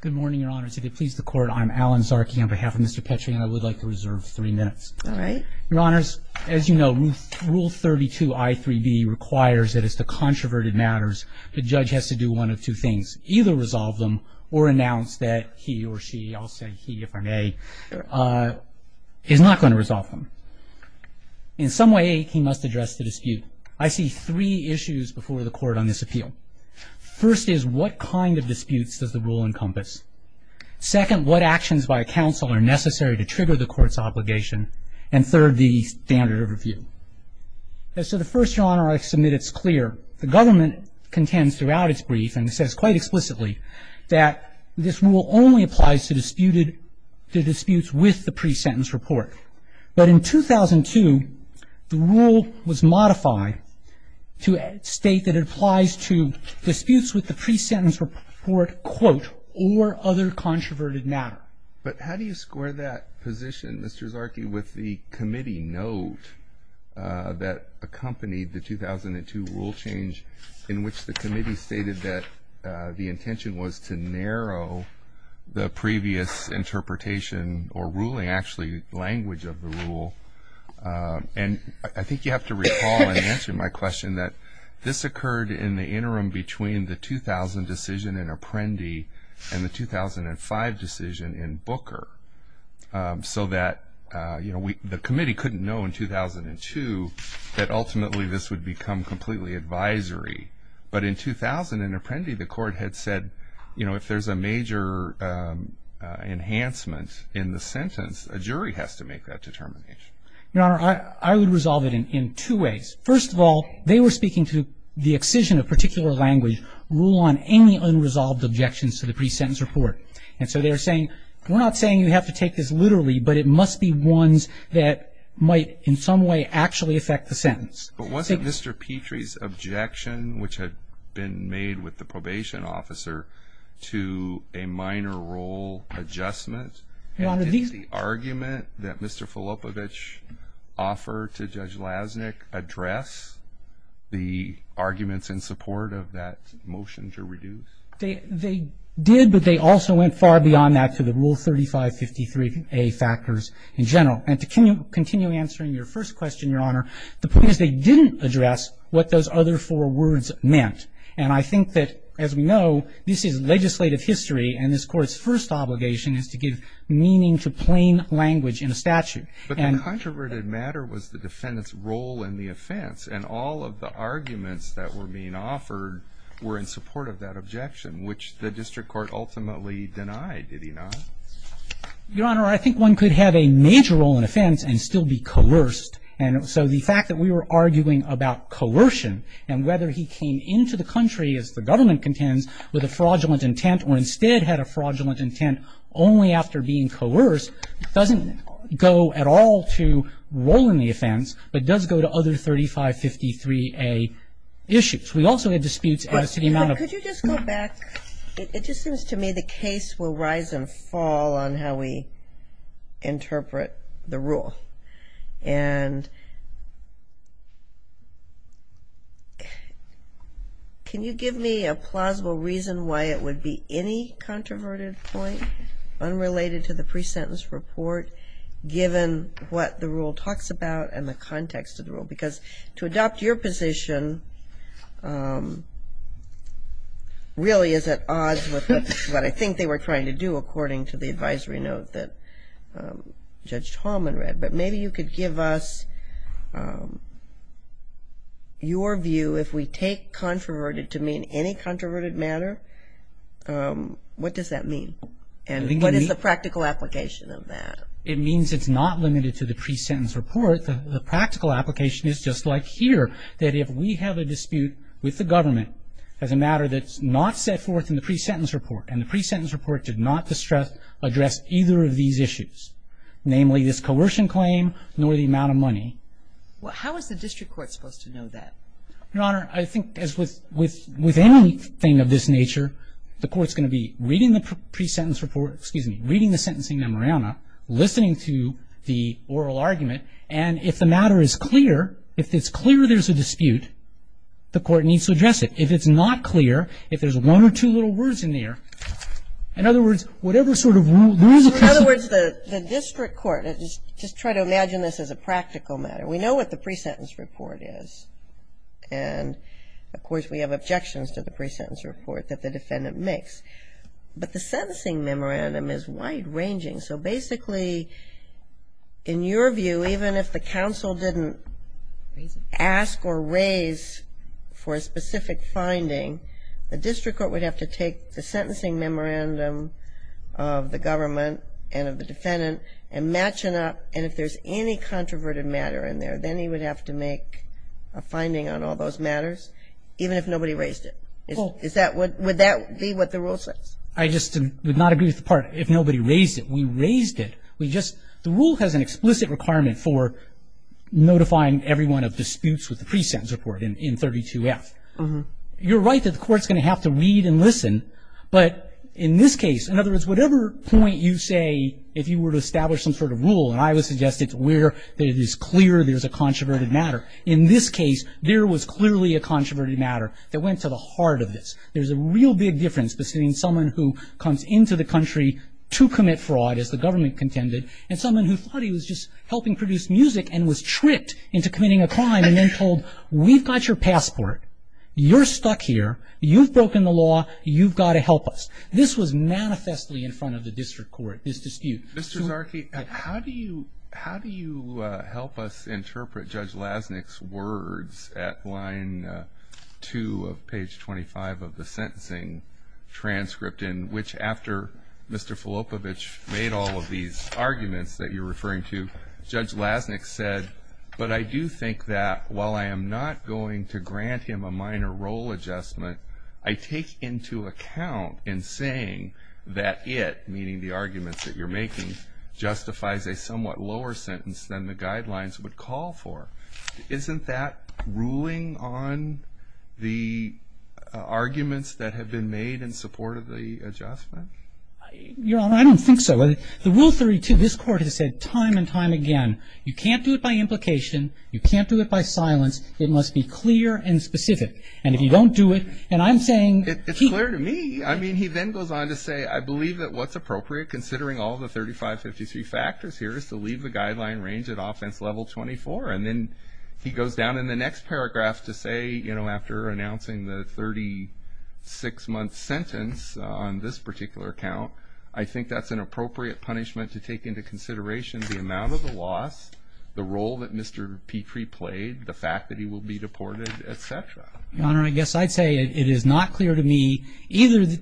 Good morning, Your Honors. If it pleases the Court, I'm Alan Zarki on behalf of Mr. Petri, and I would like to reserve three minutes. All right. Your Honors, as you know, Rule 32, I3B requires that as to controverted matters, the judge has to do one of two things, either resolve them or announce that he or she, I'll say he if I may, is not going to resolve them. In some way, he must address the dispute. I see three issues before the Court on this appeal. First is, what kind of disputes does the Rule encompass? Second, what actions by a counsel are necessary to trigger the Court's obligation? And third, the standard of review. As to the first, Your Honor, I submit it's clear. The government contends throughout its brief, and it says quite explicitly, that this Rule only applies to disputes with the pre-sentence report. But in 2002, the Rule was modified to state that it applies to disputes with the pre-sentence report, quote, or other controverted matter. But how do you square that position, Mr. Zarki, with the committee note that accompanied the 2002 Rule change, in which the committee stated that the intention was to narrow the previous interpretation or ruling, actually, language of the Rule. And I think you have to recall in answering my question that this occurred in the interim between the 2000 decision in Apprendi and the 2005 decision in Booker, so that the committee couldn't know in 2002 that ultimately this would become completely advisory. But in 2000 in Apprendi, the Court had said, you know, if there's a major enhancement in the sentence, a jury has to make that determination. Your Honor, I would resolve it in two ways. First of all, they were speaking to the excision of particular language, Rule on any unresolved objections to the pre-sentence report. And so they were saying, we're not saying you have to take this literally, but it must be ones that might in some way actually affect the sentence. But wasn't Mr. Petrie's objection, which had been made with the probation officer, to a minor role adjustment? And did the argument that Mr. Filopovich offered to Judge Lasnik address the arguments in support of that motion to reduce? They did, but they also went far beyond that to the Rule 3553A factors in general. And to continue answering your first question, Your Honor, the point is they didn't address what those other four words meant. And I think that, as we know, this is legislative history, and this Court's first obligation is to give meaning to plain language in a statute. But the controverted matter was the defendant's role in the offense, and all of the arguments that were being offered were in support of that objection, which the district court ultimately denied, did he not? Your Honor, I think one could have a major role in offense and still be coerced. And so the fact that we were arguing about coercion and whether he came into the country, as the government contends, with a fraudulent intent, or instead had a fraudulent intent only after being coerced, doesn't go at all to role in the offense, but does go to other 3553A issues. We also had disputes as to the amount of ---- Can you give me a plausible reason why it would be any controverted point unrelated to the pre-sentence report, given what the rule talks about and the context of the rule? Because to adopt your position really is at odds with what I think they were trying to do, according to the advisory note that Judge Tallman read. But maybe you could give us your view, if we take controverted to mean any controverted matter, what does that mean? And what is the practical application of that? It means it's not limited to the pre-sentence report. The practical application is just like here, that if we have a dispute with the government as a matter that's not set forth in the pre-sentence report, and the pre-sentence report did not address either of these issues, namely this coercion claim, nor the amount of money. Well, how is the district court supposed to know that? Your Honor, I think as with anything of this nature, the court's going to be reading the pre-sentence report, excuse me, reading the sentencing memoranda, listening to the oral argument, and if the matter is clear, if it's clear there's a dispute, the court needs to address it. If it's not clear, if there's one or two little words in there, in other words, whatever sort of rule ---- In other words, the district court, just try to imagine this as a practical matter. We know what the pre-sentence report is, and of course we have objections to the pre-sentence report that the defendant makes. But the sentencing memorandum is wide-ranging. So basically, in your view, even if the counsel didn't ask or raise for a specific finding, the district court would have to take the sentencing memorandum of the government and of the defendant and match it up. And if there's any controverted matter in there, then he would have to make a finding on all those matters, even if nobody raised it. Would that be what the rule says? I just would not agree with the part, if nobody raised it. We raised it. We just ---- the rule has an explicit requirement for notifying everyone of disputes with the pre-sentence report in 32F. You're right that the court's going to have to read and listen. But in this case, in other words, whatever point you say, if you were to establish some sort of rule, and I would suggest it's where it is clear there's a controverted matter. In this case, there was clearly a controverted matter that went to the heart of this. There's a real big difference between someone who comes into the country to commit fraud, as the government contended, and someone who thought he was just helping produce music and was tricked into committing a crime and then told, we've got your passport. You're stuck here. You've broken the law. You've got to help us. This was manifestly in front of the district court, this dispute. Mr. Zarke, how do you help us interpret Judge Lasnik's words at line 2 of page 25 of the sentencing transcript, in which after Mr. Filopovich made all of these arguments that you're referring to, but I do think that while I am not going to grant him a minor role adjustment, I take into account in saying that it, meaning the arguments that you're making, justifies a somewhat lower sentence than the guidelines would call for. Isn't that ruling on the arguments that have been made in support of the adjustment? Your Honor, I don't think so. The Rule 32, this Court has said time and time again, you can't do it by implication, you can't do it by silence. It must be clear and specific. And if you don't do it, and I'm saying- It's clear to me. I mean, he then goes on to say, I believe that what's appropriate, considering all the 3553 factors here, is to leave the guideline range at offense level 24. And then he goes down in the next paragraph to say, after announcing the 36-month sentence on this particular account, I think that's an appropriate punishment to take into consideration the amount of the loss, the role that Mr. Petrie played, the fact that he will be deported, etc. Your Honor, I guess I'd say it is not clear to me,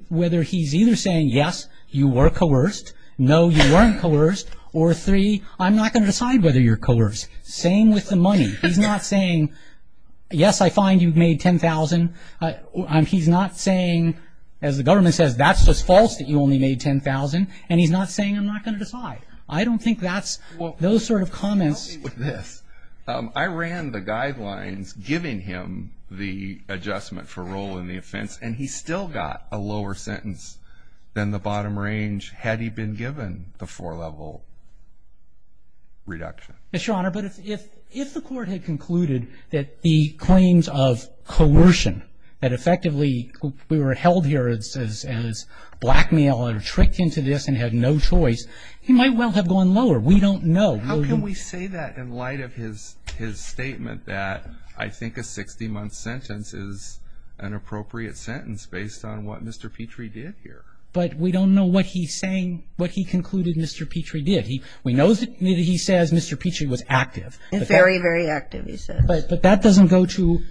whether he's either saying, yes, you were coerced, no, you weren't coerced, or three, I'm not going to decide whether you're coerced. Same with the money. He's not saying, yes, I find you've made $10,000. He's not saying, as the government says, that's just false that you only made $10,000. And he's not saying, I'm not going to decide. I don't think that's- those sort of comments- Help me with this. I ran the guidelines giving him the adjustment for role in the offense, and he still got a lower sentence than the bottom range had he been given the four-level reduction. Yes, Your Honor, but if the court had concluded that the claims of coercion, that effectively we were held here as blackmail and tricked into this and had no choice, he might well have gone lower. We don't know. How can we say that in light of his statement that I think a 60-month sentence is an appropriate sentence based on what Mr. Petrie did here? But we don't know what he's saying, what he concluded Mr. Petrie did. We know that he says Mr. Petrie was active. Very, very active, he says. But that doesn't go to-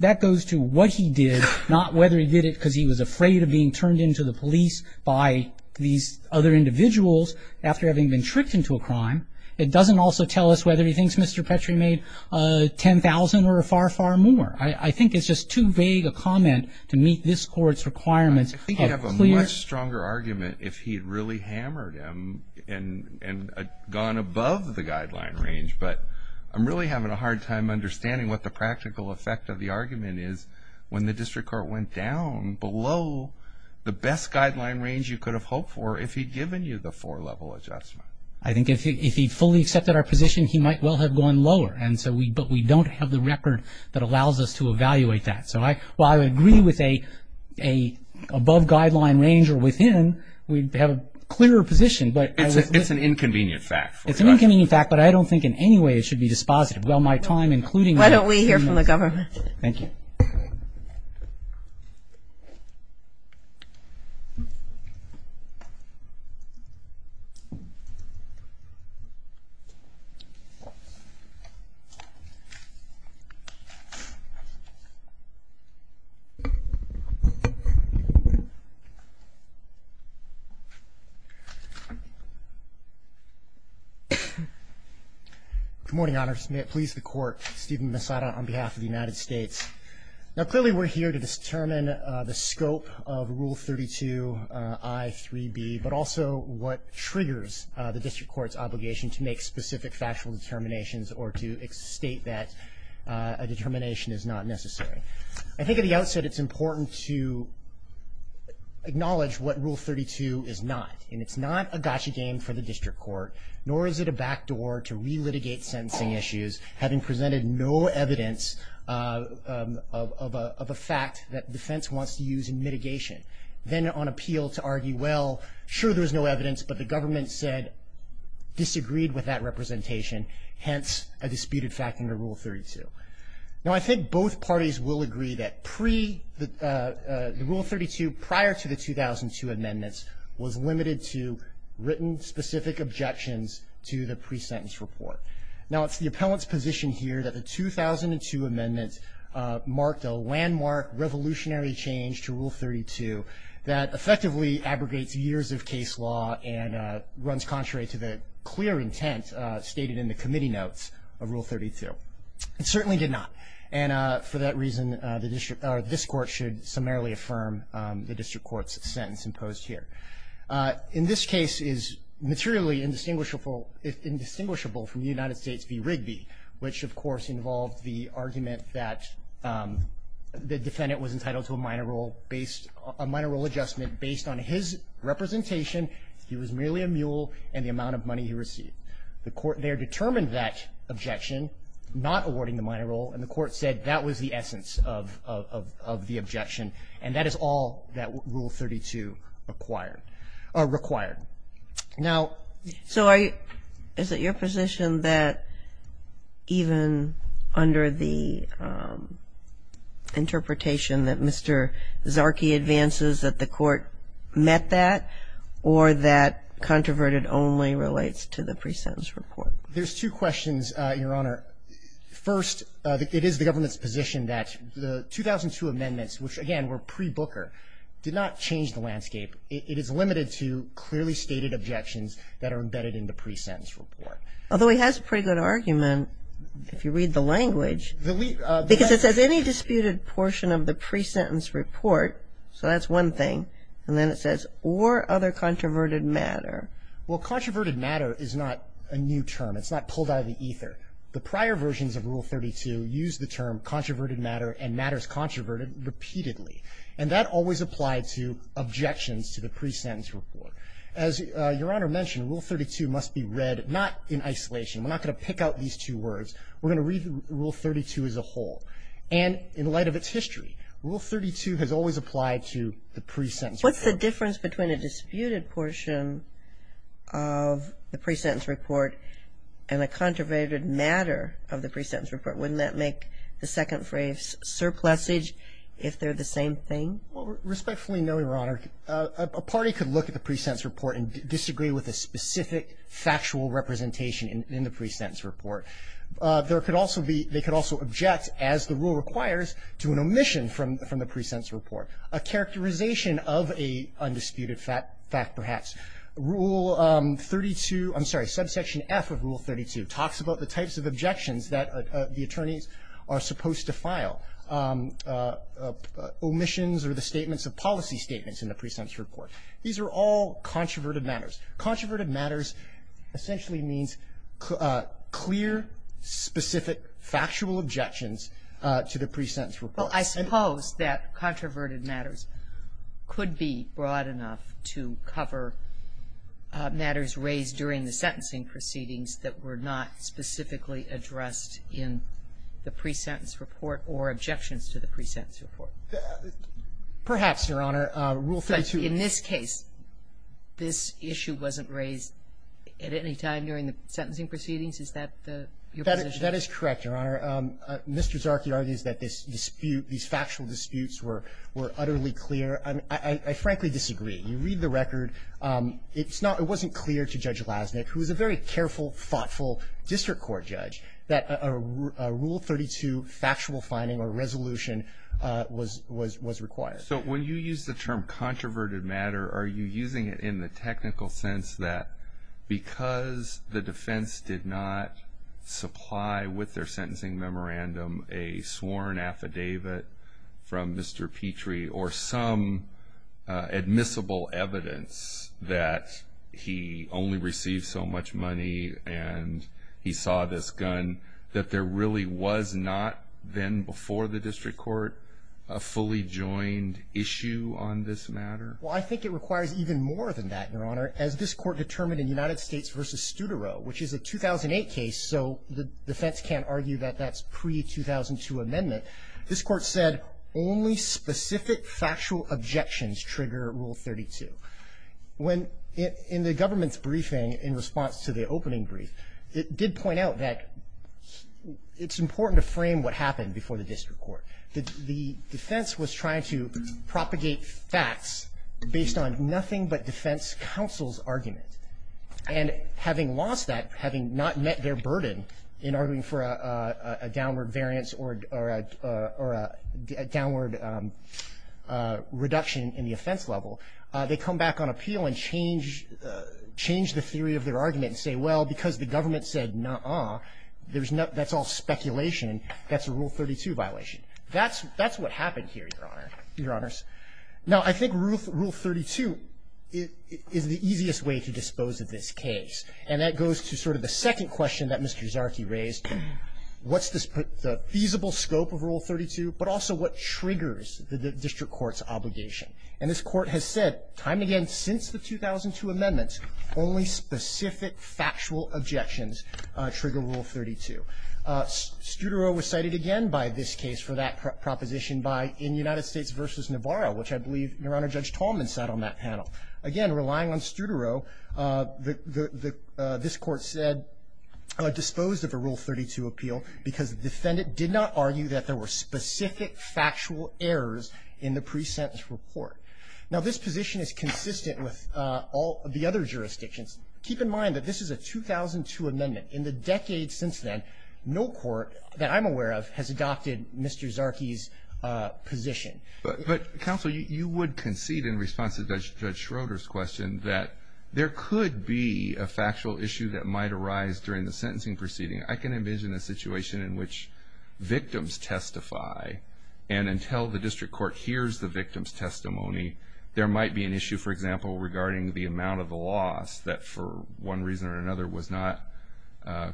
that goes to what he did, not whether he did it because he was afraid of being turned into the police by these other individuals after having been tricked into a crime. It doesn't also tell us whether he thinks Mr. Petrie made $10,000 or far, far more. I think it's just too vague a comment to meet this Court's requirements of clear- gone above the guideline range. But I'm really having a hard time understanding what the practical effect of the argument is when the district court went down below the best guideline range you could have hoped for if he'd given you the four-level adjustment. I think if he fully accepted our position, he might well have gone lower. And so we- but we don't have the record that allows us to evaluate that. So I- well, I would agree with a above guideline range or within, we'd have a clearer position. But- It's an inconvenient fact. It's an inconvenient fact, but I don't think in any way it should be dispositive. Well, my time, including- Why don't we hear from the government? Thank you. Good morning, Your Honors. May it please the Court, Stephen Misada on behalf of the United States. Now, clearly we're here to determine the scope of Rule 32I.3b, but also what triggers the district court's obligation to make specific factual determinations or to state that a determination is not necessary. I think at the outset it's important to acknowledge what Rule 32 is not. And it's not a gotcha game for the district court, nor is it a backdoor to re-litigate sentencing issues having presented no evidence of a fact that defense wants to use in mitigation. Then on appeal to argue, well, sure, there's no evidence, but the government said disagreed with that representation, hence a disputed fact under Rule 32. Now, I think both parties will agree that the Rule 32 prior to the 2002 amendments was limited to written specific objections to the pre-sentence report. Now, it's the appellant's position here that the 2002 amendments marked a landmark revolutionary change to Rule 32 that effectively abrogates years of case law and runs contrary to the clear intent stated in the committee notes of Rule 32. It certainly did not. And for that reason, this court should summarily affirm the district court's sentence imposed here. In this case, it is materially indistinguishable from the United States v. Rigby, which, of course, involved the argument that the defendant was entitled to a minor role adjustment based on his representation. He was merely a mule and the amount of money he received. The court there determined that objection, not awarding the minor role, and the court said that was the essence of the objection. And that is all that Rule 32 required. Now — Kagan. Is it your position that even under the interpretation that Mr. Zarki advances that the court met that or that controverted only relates to the pre-sentence report? There's two questions, Your Honor. First, it is the government's position that the 2002 amendments, which, again, it is limited to clearly stated objections that are embedded in the pre-sentence report. Although he has a pretty good argument, if you read the language. Because it says any disputed portion of the pre-sentence report. So that's one thing. And then it says, or other controverted matter. Well, controverted matter is not a new term. It's not pulled out of the ether. The prior versions of Rule 32 used the term controverted matter and matters controverted repeatedly. And that always applied to objections to the pre-sentence report. As Your Honor mentioned, Rule 32 must be read not in isolation. We're not going to pick out these two words. We're going to read Rule 32 as a whole. And in light of its history, Rule 32 has always applied to the pre-sentence report. What's the difference between a disputed portion of the pre-sentence report and a controverted matter of the pre-sentence report? Wouldn't that make the second phrase surplusage if they're the same thing? Well, respectfully, no, Your Honor. A party could look at the pre-sentence report and disagree with a specific factual representation in the pre-sentence report. There could also be they could also object, as the rule requires, to an omission from the pre-sentence report, a characterization of a undisputed fact perhaps. Rule 32, I'm sorry, subsection F of Rule 32 talks about the types of objections that the attorneys are supposed to file, omissions or the statements of policy statements in the pre-sentence report. These are all controverted matters. Controverted matters essentially means clear, specific, factual objections to the pre-sentence report. Well, I suppose that controverted matters could be broad enough to cover matters raised during the sentencing proceedings that were not specifically addressed in the pre-sentence report or objections to the pre-sentence report. Perhaps, Your Honor. Rule 32. But in this case, this issue wasn't raised at any time during the sentencing proceedings? Is that your position? That is correct, Your Honor. Mr. Zarki argues that this dispute, these factual disputes were utterly clear. I frankly disagree. You read the record. It wasn't clear to Judge Lasnik, who is a very careful, thoughtful district court judge, that a Rule 32 factual finding or resolution was required. So when you use the term controverted matter, are you using it in the technical sense that because the defense did not supply with their sentencing memorandum a sworn affidavit from Mr. Petrie or some admissible evidence that he only received so much money and he saw this gun that there really was not then before the district court a fully joined issue on this matter? Well, I think it requires even more than that, Your Honor. As this court determined in United States v. Studerow, which is a 2008 case, so the defense can't argue that that's pre-2008 or pre-2002 amendment, this court said only specific factual objections trigger Rule 32. When in the government's briefing in response to the opening brief, it did point out that it's important to frame what happened before the district court, that the defense was trying to propagate facts based on nothing but defense counsel's argument. And having lost that, having not met their burden in arguing for a downward variance or a downward reduction in the offense level, they come back on appeal and change the theory of their argument and say, well, because the government said, nuh-uh, that's all speculation, that's a Rule 32 violation. That's what happened here, Your Honor, Your Honors. Now, I think Rule 32 is the easiest way to dispose of this case. And that goes to sort of the second question that Mr. Zarkey raised, what's the feasible scope of Rule 32, but also what triggers the district court's obligation. And this court has said time and again since the 2002 amendments, only specific factual objections trigger Rule 32. Studerow was cited again by this case for that proposition by in United States v. Navarro, which I believe, Your Honor, Judge Tallman sat on that panel. Again, relying on Studerow, this Court said dispose of a Rule 32 appeal because the defendant did not argue that there were specific factual errors in the pre-sentence report. Now, this position is consistent with all the other jurisdictions. Keep in mind that this is a 2002 amendment. In the decades since then, no court that I'm aware of has adopted Mr. Zarkey's position. But Counsel, you would concede in response to Judge Schroeder's question that there could be a factual issue that might arise during the sentencing proceeding. I can envision a situation in which victims testify and until the district court hears the victim's testimony, there might be an issue, for example, regarding the amount of the loss that for one reason or another was not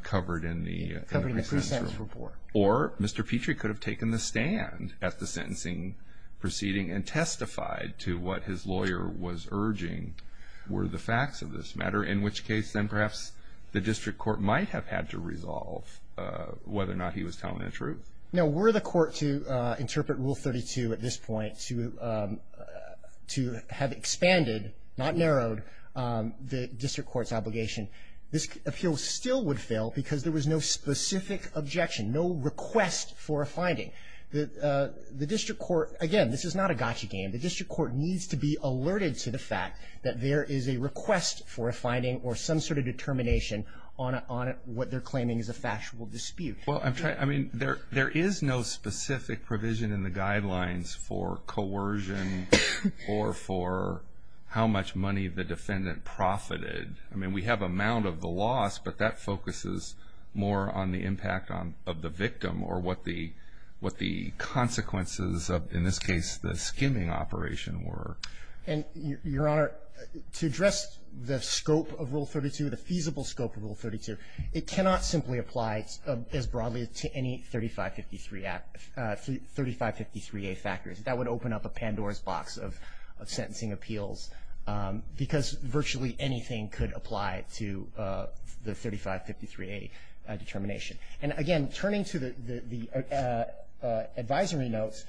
covered in the pre-sentence report. Or Mr. Petrie could have taken the stand at the sentencing proceeding and testified to what his lawyer was urging were the facts of this matter, in which case then perhaps the district court might have had to resolve whether or not he was telling the truth. Now, were the court to interpret Rule 32 at this point to have expanded, not narrowed, the district court's obligation, this appeal still would fail because there was no specific objection, no request for a finding. The district court, again, this is not a gotcha game. The district court needs to be alerted to the fact that there is a request for a finding or some sort of determination on what they're claiming is a factual dispute. Well, I'm trying to, I mean, there is no specific provision in the guidelines for coercion or for how much money the defendant profited. I mean, we have amount of the loss, but that focuses more on the impact of the victim or what the consequences of, in this case, the skimming operation were. And, Your Honor, to address the scope of Rule 32, the feasible scope of Rule 32, it cannot simply apply as broadly to any 3553A factors. That would open up a Pandora's box of sentencing appeals because virtually anything could apply to the 3553A determination. And, again, turning to the advisory notes,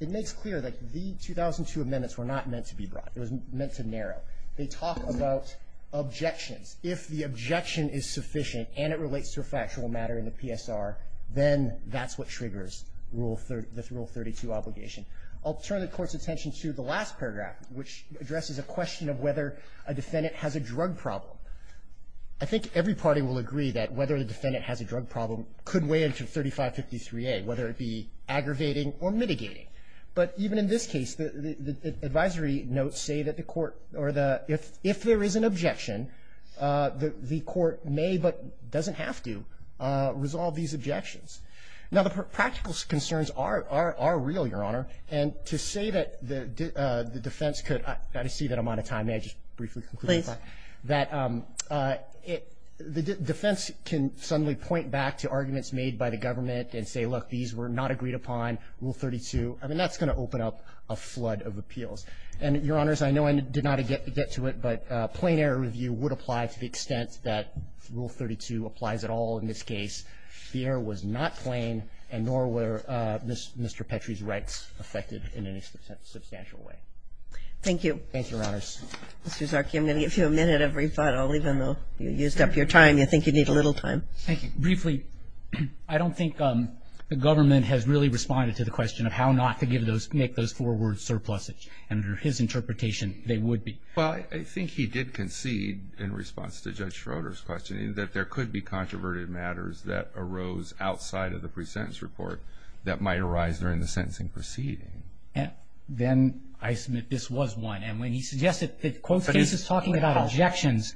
it makes clear that the 2002 amendments were not meant to be broad. It was meant to narrow. They talk about objections. If the objection is sufficient and it relates to a factual matter in the PSR, then that's what triggers Rule 32 obligation. I'll turn the Court's attention to the last paragraph, which addresses a question of whether a defendant has a drug problem. I think every party will agree that whether the defendant has a drug problem could weigh into 3553A, whether it be aggravating or mitigating. But even in this case, the advisory notes say that if there is an objection, the Court may, but doesn't have to, resolve these objections. Now, the practical concerns are real, Your Honor. And to say that the defense could – I see that I'm out of time. May I just briefly conclude? Please. That the defense can suddenly point back to arguments made by the government and say, look, these were not agreed upon, Rule 32. I mean, that's going to open up a flood of appeals. And, Your Honors, I know I did not get to it, but plain error review would apply to the extent that Rule 32 applies at all in this case. The error was not plain, and nor were Mr. Petrie's rights affected in any substantial way. Thank you. Thank you, Your Honors. Mr. Zarki, I'm going to give you a minute of rebuttal. Even though you used up your time, you think you need a little time. Thank you. Briefly, I don't think the government has really responded to the question of how not to make those four words surplusage. And under his interpretation, they would be. Well, I think he did concede, in response to Judge Schroeder's question, that there could be controverted matters that arose outside of the pre-sentence report that might arise during the sentencing proceeding. Then I submit this was one. And when he suggested that the court's case is talking about objections,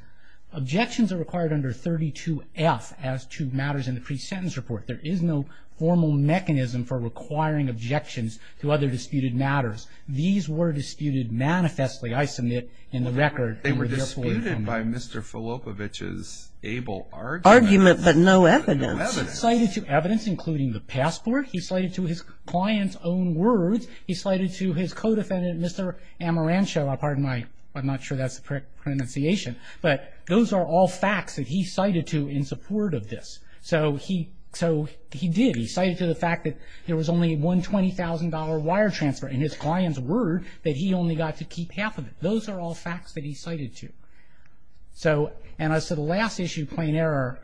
objections are required under 32F as to matters in the pre-sentence report. There is no formal mechanism for requiring objections to other disputed matters. These were disputed manifestly, I submit, in the record. They were disputed by Mr. Filopovich's able argument. Argument, but no evidence. No evidence. Slated to evidence, including the passport. He slated to his client's own words. He slated to his co-defendant, Mr. Amarancho. I'm not sure that's the correct pronunciation. But those are all facts that he cited to in support of this. So he did. He cited to the fact that there was only one $20,000 wire transfer in his client's word that he only got to keep half of it. Those are all facts that he cited to. So, and as to the last issue, plain error,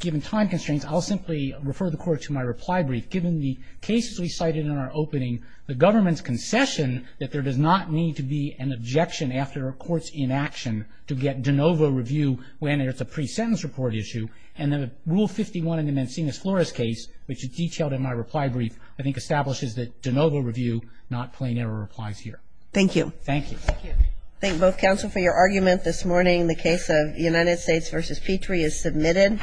given time constraints, I'll simply refer the Court to my reply brief. Given the cases we cited in our opening, the government's concession that there does not need to be an objection after a court's inaction to get de novo review when it's a pre-sentence report issue. And then Rule 51 in the Mancini-Flores case, which is detailed in my reply brief, I think establishes that de novo review, not plain error replies here. Thank you. Thank you. Thank you. Thank both counsel for your argument this morning. The case of United States v. Petrie is submitted.